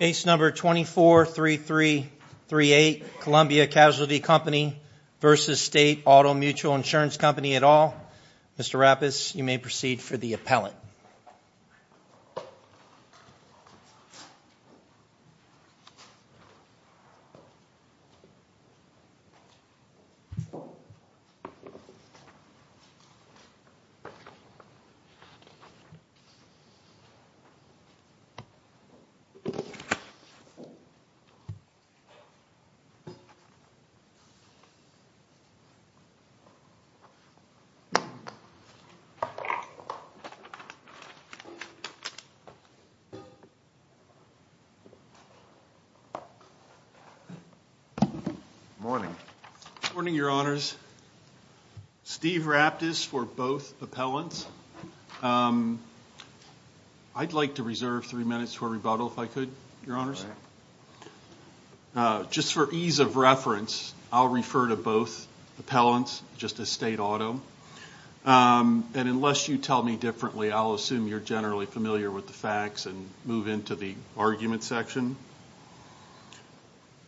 243338 Columbia Casualty Co v. State Auto Mutual Ins Co at all. Mr. Rappes, you may proceed for the appellant. Good morning. Good morning, Your Honors. Steve Rappes for both appellants. I'd like to reserve three minutes for rebuttal, if I could, Your Honors. Just for ease of reference, I'll refer to both appellants just as State Auto. And unless you tell me differently, I'll assume you're generally familiar with the facts and move into the argument section.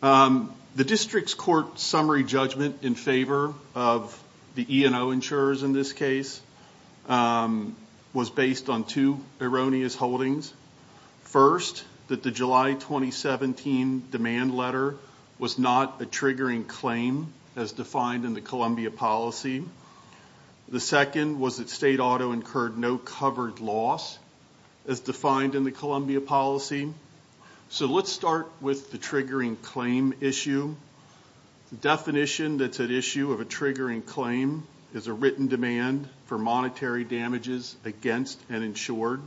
The district's court summary judgment in favor of the E&O insurers in this case was based on two erroneous holdings. First, that the July 2017 demand letter was not a triggering claim as defined in the Columbia policy. The second was that State Auto incurred no covered loss as defined in the Columbia policy. So let's start with the triggering claim issue. The definition that's at issue of a triggering claim is a written demand for monetary damages against an insured.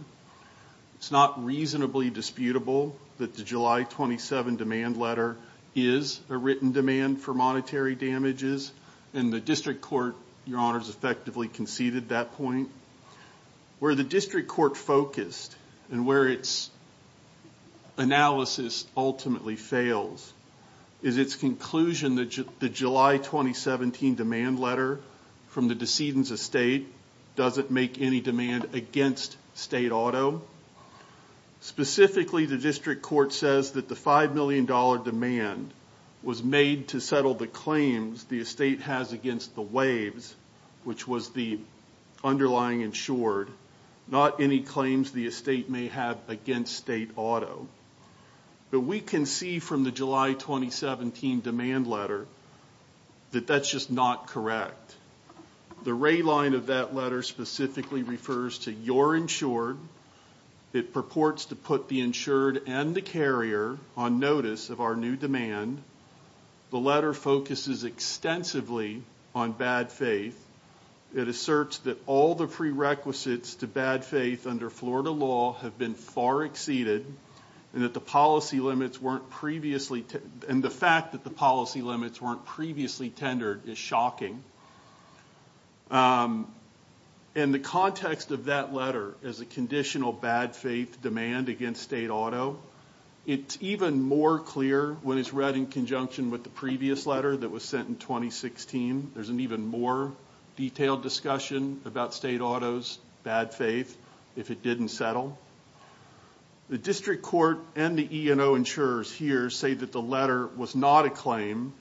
It's not reasonably disputable that the July 27 demand letter is a written demand for monetary damages. And the district court, Your Honors, effectively conceded that point. Where the district court focused and where its analysis ultimately fails is its conclusion that the July 2017 demand letter from the decedent's estate doesn't make any demand against State Auto. Specifically, the district court says that the $5 million demand was made to settle the claims the estate has against the WAVES, which was the underlying insured, not any claims the estate may have against State Auto. But we can see from the July 2017 demand letter that that's just not correct. The ray line of that letter specifically refers to your insured. It purports to put the insured and the carrier on notice of our new demand. The letter focuses extensively on bad faith. It asserts that all the prerequisites to bad faith under Florida law have been far exceeded and that the policy limits weren't previously, and the fact that the policy limits weren't previously tendered is shocking. And the context of that letter is a conditional bad faith demand against State Auto. It's even more clear when it's read in conjunction with the previous letter that was sent in 2016. There's an even more detailed discussion about State Auto's bad faith if it didn't settle. The district court and the E&O insurers here say that the letter was not a claim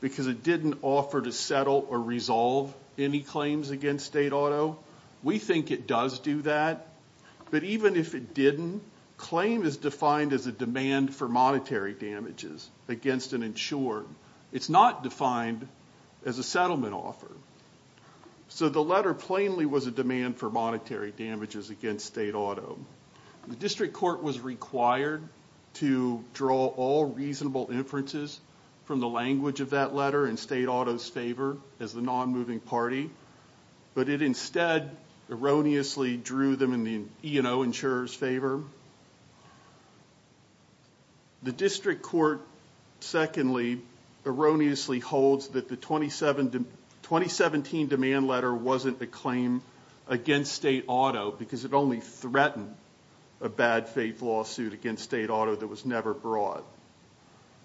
because it didn't offer to settle or resolve any claims against State Auto. We think it does do that. But even if it didn't, claim is defined as a demand for monetary damages against an insured. It's not defined as a settlement offer. So the letter plainly was a demand for monetary damages against State Auto. The district court was required to draw all reasonable inferences from the language of that letter in State Auto's favor as the non-moving party. But it instead erroneously drew them in the E&O insurer's favor. The district court secondly erroneously holds that the 2017 demand letter wasn't a claim against State Auto because it only threatened a bad faith lawsuit against State Auto that was never brought.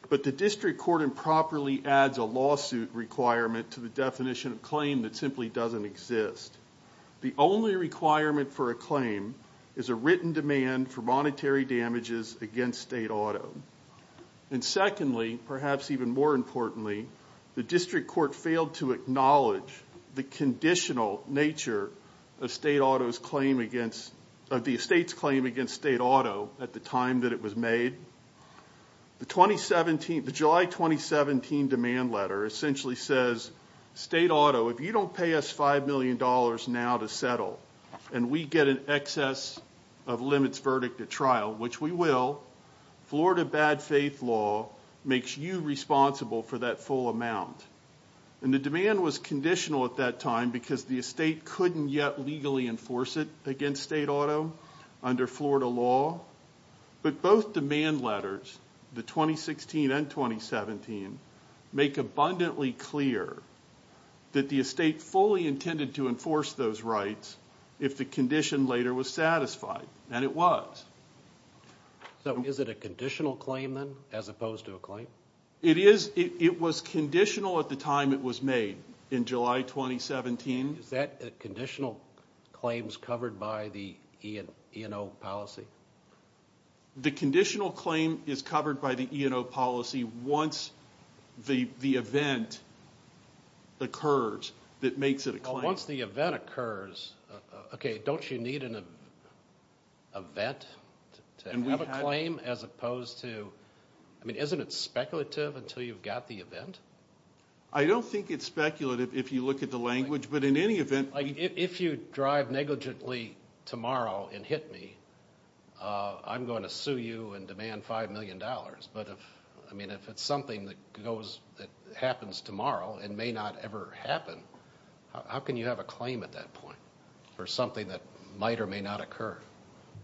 But the district court improperly adds a lawsuit requirement to the definition of claim that simply doesn't exist. The only requirement for a claim is a written demand for monetary damages against State Auto. And secondly, perhaps even more importantly, the district court failed to acknowledge the conditional nature of the estate's claim against State Auto at the time that it was made. The July 2017 demand letter essentially says, State Auto, if you don't pay us $5 million now to settle and we get an excess of limits verdict at trial, which we will, Florida bad faith law makes you responsible for that full amount. And the demand was conditional at that time because the estate couldn't yet legally enforce it against State Auto under Florida law. But both demand letters, the 2016 and 2017, make abundantly clear that the estate fully intended to enforce those rights if the condition later was satisfied. And it was. So is it a conditional claim then, as opposed to a claim? It is. It was conditional at the time it was made, in July 2017. Is that conditional claims covered by the E&O policy? The conditional claim is covered by the E&O policy once the event occurs that makes it a claim. Once the event occurs, okay, don't you need an event to have a claim as opposed to, I mean, isn't it speculative until you've got the event? I don't think it's speculative if you look at the language, but in any event. If you drive negligently tomorrow and hit me, I'm going to sue you and demand $5 million. But if it's something that happens tomorrow and may not ever happen, how can you have a claim at that point for something that might or may not occur?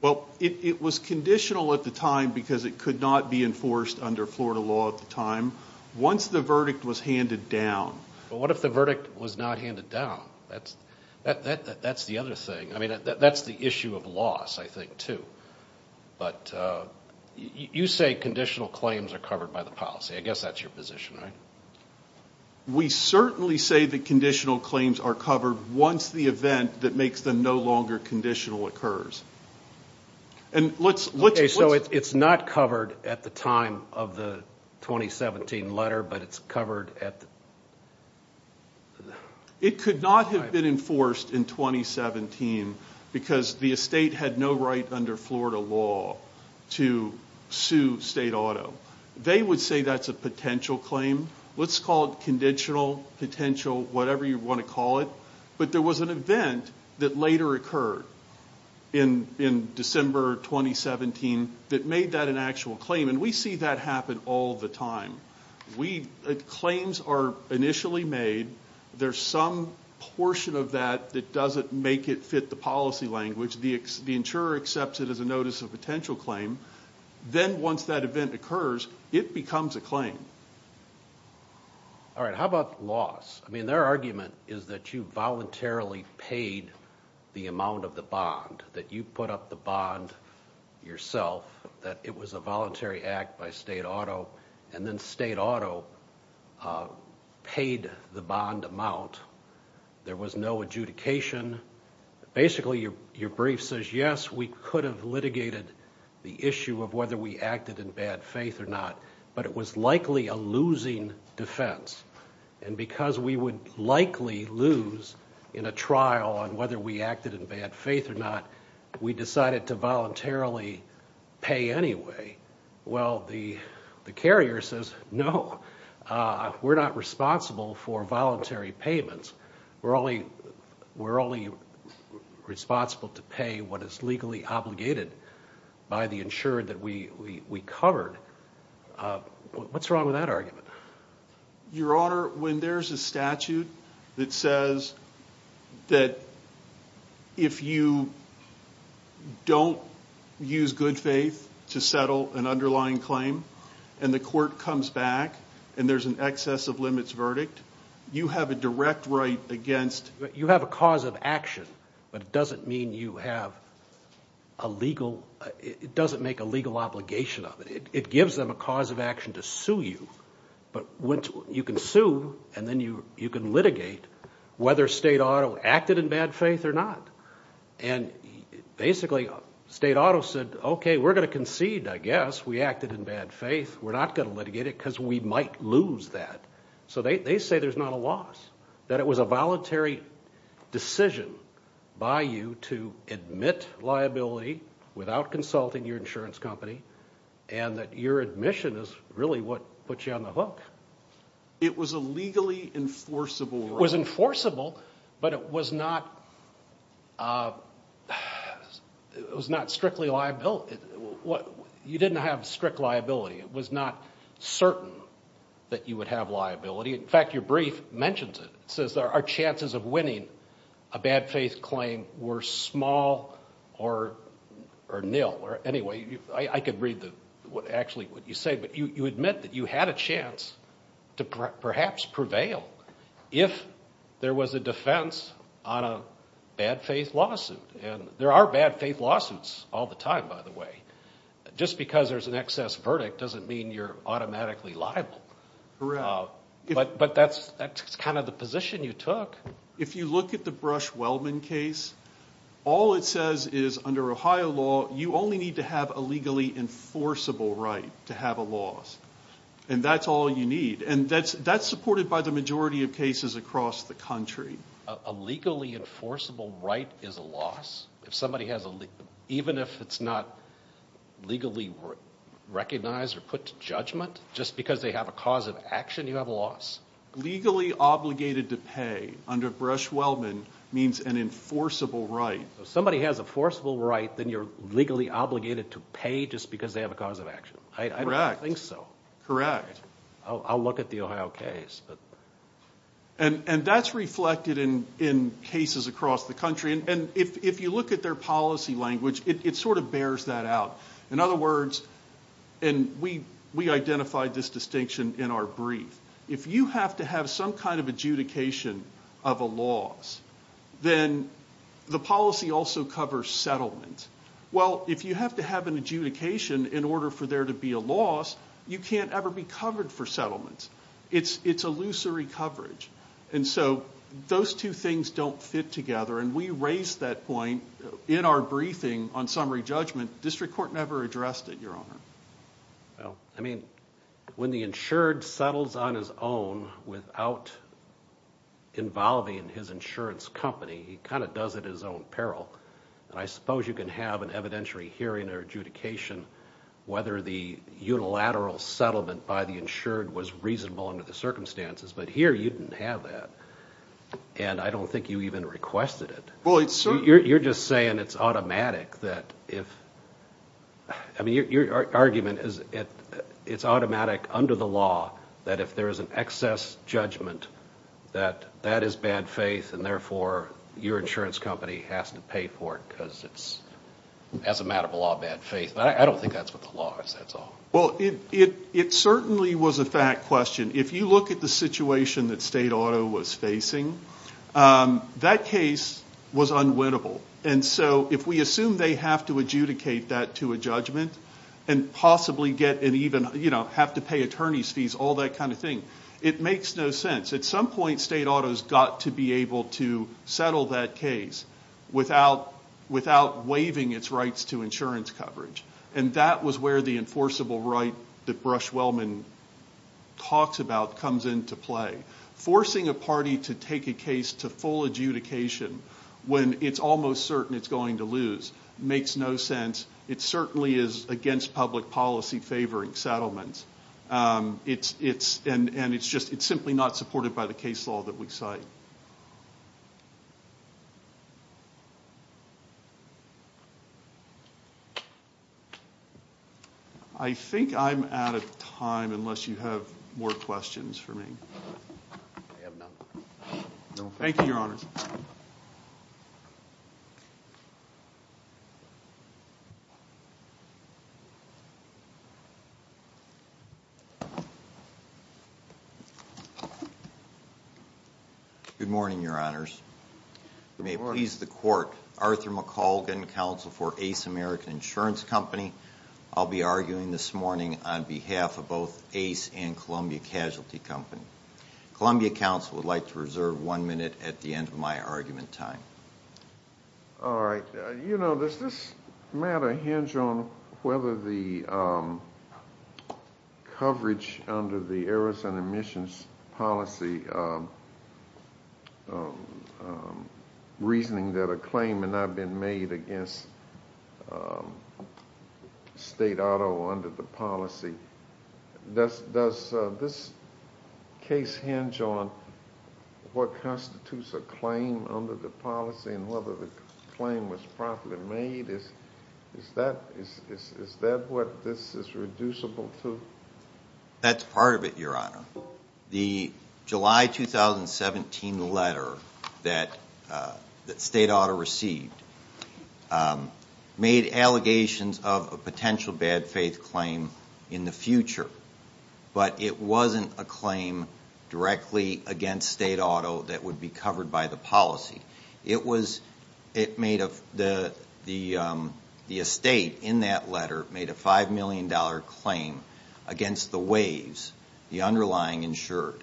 Well, it was conditional at the time because it could not be enforced under Florida law at the time. Once the verdict was handed down. But what if the verdict was not handed down? That's the other thing. I mean, that's the issue of loss, I think, too. But you say conditional claims are covered by the policy. I guess that's your position, right? We certainly say that conditional claims are covered once the event that makes them no longer conditional occurs. Okay, so it's not covered at the time of the 2017 letter, but it's covered at the time. It could not have been enforced in 2017 because the estate had no right under Florida law to sue state auto. They would say that's a potential claim. Let's call it conditional, potential, whatever you want to call it. But there was an event that later occurred in December 2017 that made that an actual claim. And we see that happen all the time. Claims are initially made. There's some portion of that that doesn't make it fit the policy language. The insurer accepts it as a notice of potential claim. Then once that event occurs, it becomes a claim. All right, how about loss? I mean, our argument is that you voluntarily paid the amount of the bond, that you put up the bond yourself, that it was a voluntary act by state auto, and then state auto paid the bond amount. There was no adjudication. Basically, your brief says, yes, we could have litigated the issue of whether we acted in bad faith or not, but it was likely a losing defense. And because we would likely lose in a trial on whether we acted in bad faith or not, we decided to voluntarily pay anyway. Well, the carrier says, no, we're not responsible for voluntary payments. We're only responsible to pay what is legally obligated by the insurer that we covered. What's wrong with that argument? Your Honor, when there's a statute that says that if you don't use good faith to settle an underlying claim, and the court comes back, and there's an excess of limits verdict, you have a direct right against... You have a cause of action, but it doesn't mean you have a legal... It doesn't make a legal obligation of it. It gives them a cause of action to sue you, but you can sue, and then you can litigate whether state auto acted in bad faith or not. And basically, state auto said, okay, we're going to concede, I guess, we acted in bad faith. We're not going to litigate it because we might lose that. So they say there's not a loss, that it was a voluntary decision by you to admit liability without consulting your insurance company, and that your admission is really what put you on the hook. It was a legally enforceable... It was enforceable, but it was not strictly liable. You didn't have strict liability. It was not certain that you would have liability. In fact, your brief mentions it. It says there are chances of winning a bad faith claim were small or nil. Anyway, I could read actually what you say, but you admit that you had a chance to perhaps prevail if there was a defense on a bad faith lawsuit. And there are bad faith lawsuits all the time, by the way. Just because there's an excess verdict doesn't mean you're automatically liable. But that's kind of the position you took. If you look at the Brush-Wellman case, all it says is under Ohio law, you only need to have a legally enforceable right to have a loss. And that's all you need. And that's supported by the majority of cases across the country. A legally enforceable right is a loss? Even if it's not legally recognized or put to judgment, just because they have a cause of action, you have a loss? Legally obligated to pay under Brush-Wellman means an enforceable right. If somebody has a forcible right, then you're legally obligated to pay just because they have a cause of action. I don't think so. Correct. I'll look at the Ohio case. And that's reflected in cases across the country. And if you look at their policy language, it sort of bears that out. In other words, and we identified this distinction in our brief, if you have to have some kind of adjudication of a loss, then the policy also covers settlement. Well, if you have to have an adjudication in order for there to be a loss, you can't ever be covered for settlement. It's illusory coverage. And so those two things don't fit together. And we raised that point in our briefing on summary judgment. District Court never addressed it, Your Honor. I mean, when the insured settles on his own without involving his insurance company, he kind of does it at his own peril. And I suppose you can have an evidentiary hearing or adjudication whether the unilateral settlement by the insured was reasonable under the circumstances. But here, you didn't have that. And I don't think you even requested it. You're just saying it's automatic that if – I mean, your argument is it's automatic under the law that if there is an excess judgment that that is bad faith and therefore your insurance company has to pay for it because it's, as a matter of law, bad faith. I don't think that's what the law is, that's all. Well, it certainly was a fact question. If you look at the situation that state auto was facing, that case was unwinnable. And so if we assume they have to adjudicate that to a judgment and possibly get – and even have to pay attorney's fees, all that kind of thing, it makes no sense. At some point, state autos got to be able to settle that case without waiving its rights to insurance coverage. And that was where the enforceable right that Brush-Wellman talks about comes into play. Forcing a party to take a case to full adjudication when it's almost certain it's going to lose makes no sense. It certainly is against public policy favoring settlements. And it's just – it's simply not supported by the case law that we cite. I think I'm out of time unless you have more questions for me. I have none. Thank you, Your Honors. Good morning, Your Honors. Good morning. If you may please the court, Arthur McColgan, counsel for Ace American Insurance Company. I'll be arguing this morning on behalf of both Ace and Columbia Casualty Company. Columbia Counsel would like to reserve one minute at the end of my argument time. All right. You know, does this matter hinge on whether the coverage under the errors and omissions policy, reasoning that a claim may not have been made against state auto under the policy, does this case hinge on what constitutes a claim under the policy and whether the claim was properly made? Is that what this is reducible to? That's part of it, Your Honor. The July 2017 letter that state auto received made allegations of a potential bad faith claim in the future. But it wasn't a claim directly against state auto that would be covered by the policy. The estate in that letter made a $5 million claim against the Waves, the underlying insured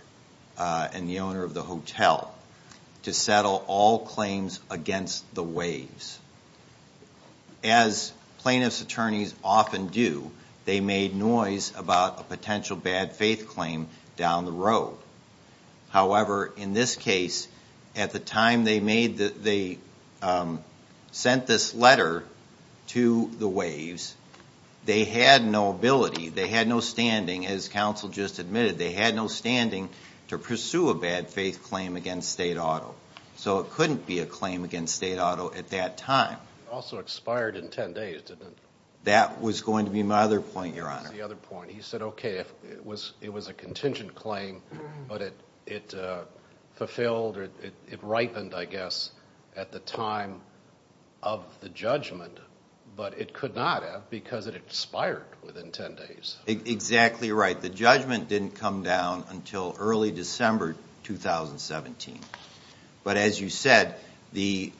and the owner of the hotel, to settle all claims against the Waves. As plaintiff's attorneys often do, they made noise about a potential bad faith claim down the road. However, in this case, at the time they sent this letter to the Waves, they had no ability, they had no standing, as counsel just admitted, they had no standing to pursue a bad faith claim against state auto. So it couldn't be a claim against state auto at that time. It also expired in 10 days, didn't it? That was going to be my other point, Your Honor. That was the other point. He said, okay, it was a contingent claim, but it fulfilled or it ripened, I guess, at the time of the judgment. But it could not have because it expired within 10 days. Exactly right. The judgment didn't come down until early December 2017. But as you said, the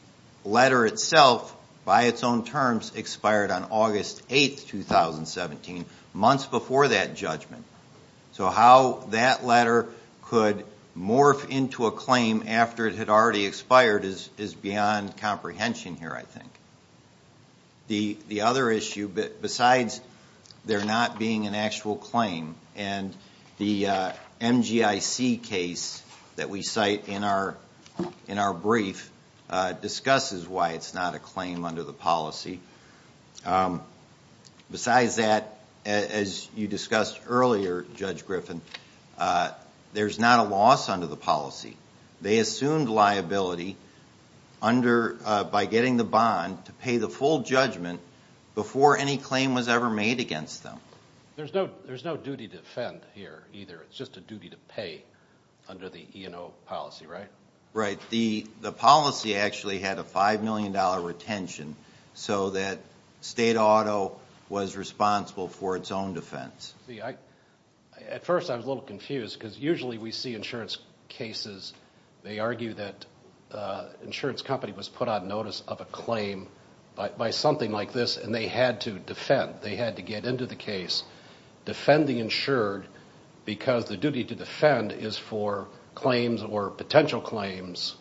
letter itself, by its own terms, expired on August 8, 2017, months before that judgment. So how that letter could morph into a claim after it had already expired is beyond comprehension here, I think. The other issue, besides there not being an actual claim, and the MGIC case that we cite in our brief discusses why it's not a claim under the policy. Besides that, as you discussed earlier, Judge Griffin, there's not a loss under the policy. They assumed liability by getting the bond to pay the full judgment before any claim was ever made against them. There's no duty to defend here either. It's just a duty to pay under the E&O policy, right? Right. The policy actually had a $5 million retention so that state auto was responsible for its own defense. At first I was a little confused because usually we see insurance cases, they argue that an insurance company was put on notice of a claim by something like this and they had to defend. They had to get into the case, defend the insured, because the duty to defend is for claims or potential claims.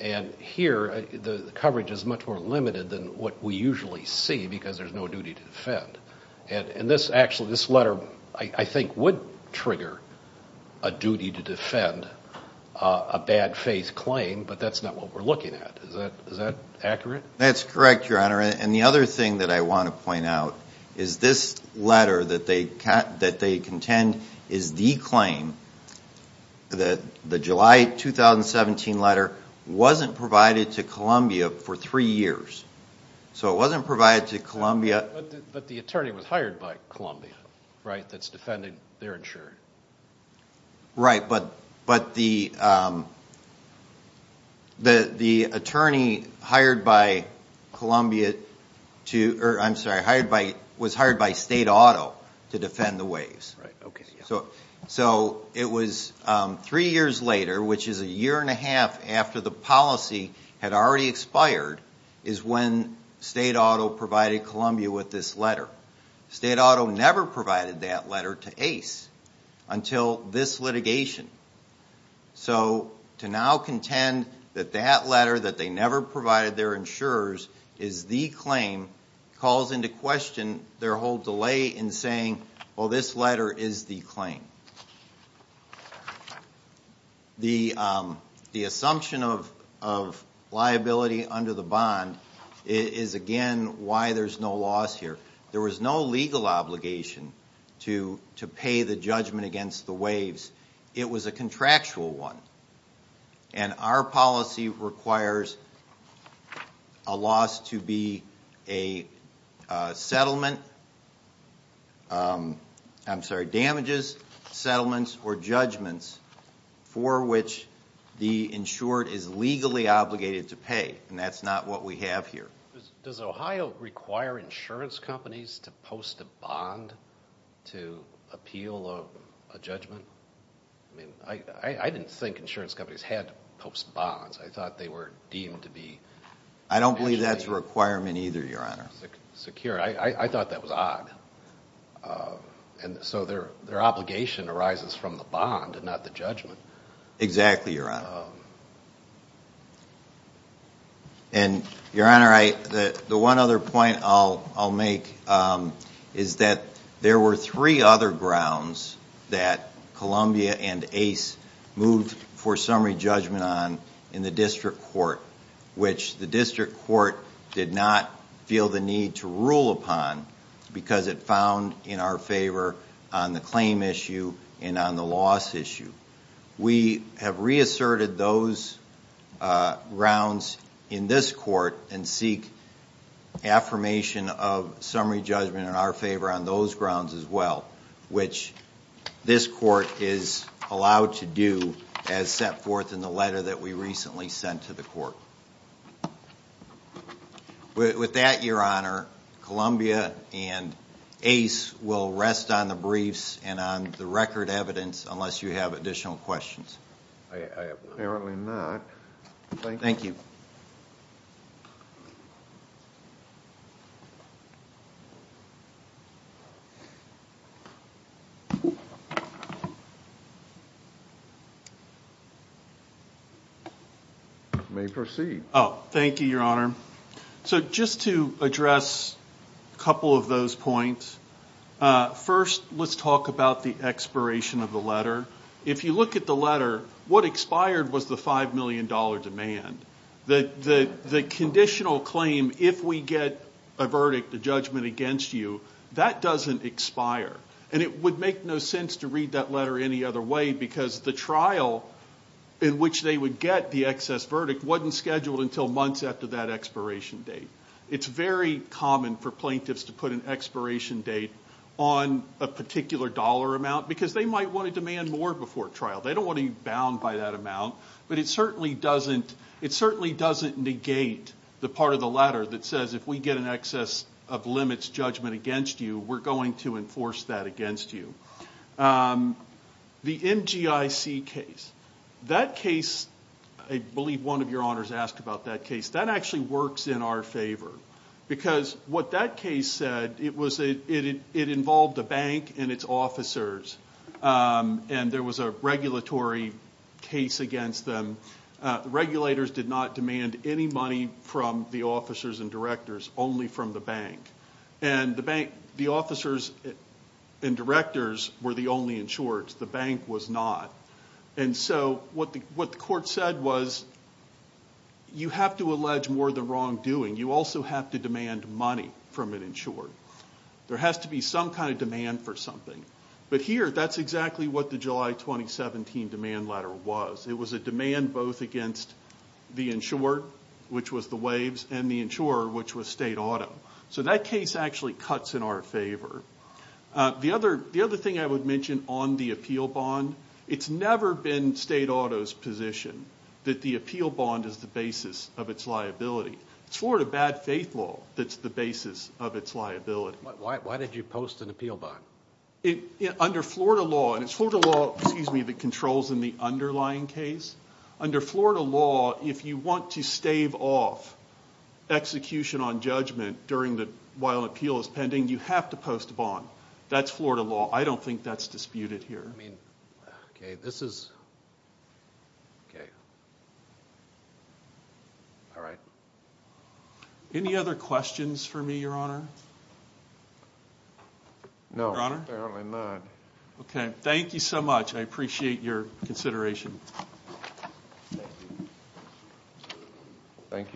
And here the coverage is much more limited than what we usually see because there's no duty to defend. And this letter I think would trigger a duty to defend a bad faith claim, but that's not what we're looking at. Is that accurate? That's correct, Your Honor. And the other thing that I want to point out is this letter that they contend is the claim that the July 2017 letter wasn't provided to Columbia for three years. So it wasn't provided to Columbia. But the attorney was hired by Columbia, right, that's defending their insurer. Right, but the attorney hired by Columbia to, I'm sorry, was hired by state auto to defend the waves. Right, okay. So it was three years later, which is a year and a half after the policy had already expired, is when state auto provided Columbia with this letter. State auto never provided that letter to Ace until this litigation. So to now contend that that letter that they never provided their insurers is the claim calls into question their whole delay in saying, well, this letter is the claim. The assumption of liability under the bond is again why there's no loss here. There was no legal obligation to pay the judgment against the waves. It was a contractual one. And our policy requires a loss to be a settlement, I'm sorry, damages, settlements, or judgments for which the insured is legally obligated to pay. And that's not what we have here. Does Ohio require insurance companies to post a bond to appeal a judgment? I mean, I didn't think insurance companies had to post bonds. I thought they were deemed to be nationally secure. I don't believe that's a requirement either, Your Honor. I thought that was odd. And so their obligation arises from the bond and not the judgment. Exactly, Your Honor. And, Your Honor, the one other point I'll make is that there were three other grounds that Columbia and Ace moved for summary judgment on in the district court, which the district court did not feel the need to rule upon because it found in our favor on the claim issue and on the loss issue. We have reasserted those grounds in this court and seek affirmation of summary judgment in our favor on those grounds as well, which this court is allowed to do as set forth in the letter that we recently sent to the court. With that, Your Honor, Columbia and Ace will rest on the briefs and on the record evidence unless you have additional questions. I apparently not. Thank you. You may proceed. Oh, thank you, Your Honor. So just to address a couple of those points, first let's talk about the expiration of the letter. If you look at the letter, what expired was the $5 million demand. The conditional claim, if we get a verdict, a judgment against you, that doesn't expire. And it would make no sense to read that letter any other way because the trial in which they would get the excess verdict wasn't scheduled until months after that expiration date. It's very common for plaintiffs to put an expiration date on a particular dollar amount because they might want to demand more before trial. They don't want to be bound by that amount. But it certainly doesn't negate the part of the letter that says if we get an excess of limits judgment against you, we're going to enforce that against you. The MGIC case, that case, I believe one of your honors asked about that case. That actually works in our favor because what that case said, it involved a bank and its officers, and there was a regulatory case against them. The regulators did not demand any money from the officers and directors, only from the bank. And the officers and directors were the only insureds. The bank was not. And so what the court said was you have to allege more than wrongdoing. You also have to demand money from an insured. There has to be some kind of demand for something. But here, that's exactly what the July 2017 demand letter was. It was a demand both against the insured, which was the waves, and the insurer, which was state auto. So that case actually cuts in our favor. The other thing I would mention on the appeal bond, it's never been state auto's position that the appeal bond is the basis of its liability. It's Florida bad faith law that's the basis of its liability. Why did you post an appeal bond? Under Florida law, and it's Florida law that controls in the underlying case. Under Florida law, if you want to stave off execution on judgment while an appeal is pending, you have to post a bond. That's Florida law. I don't think that's disputed here. I mean, okay, this is, okay. All right. Any other questions for me, Your Honor? No, apparently not. Okay. Thank you so much. I appreciate your consideration. Thank you.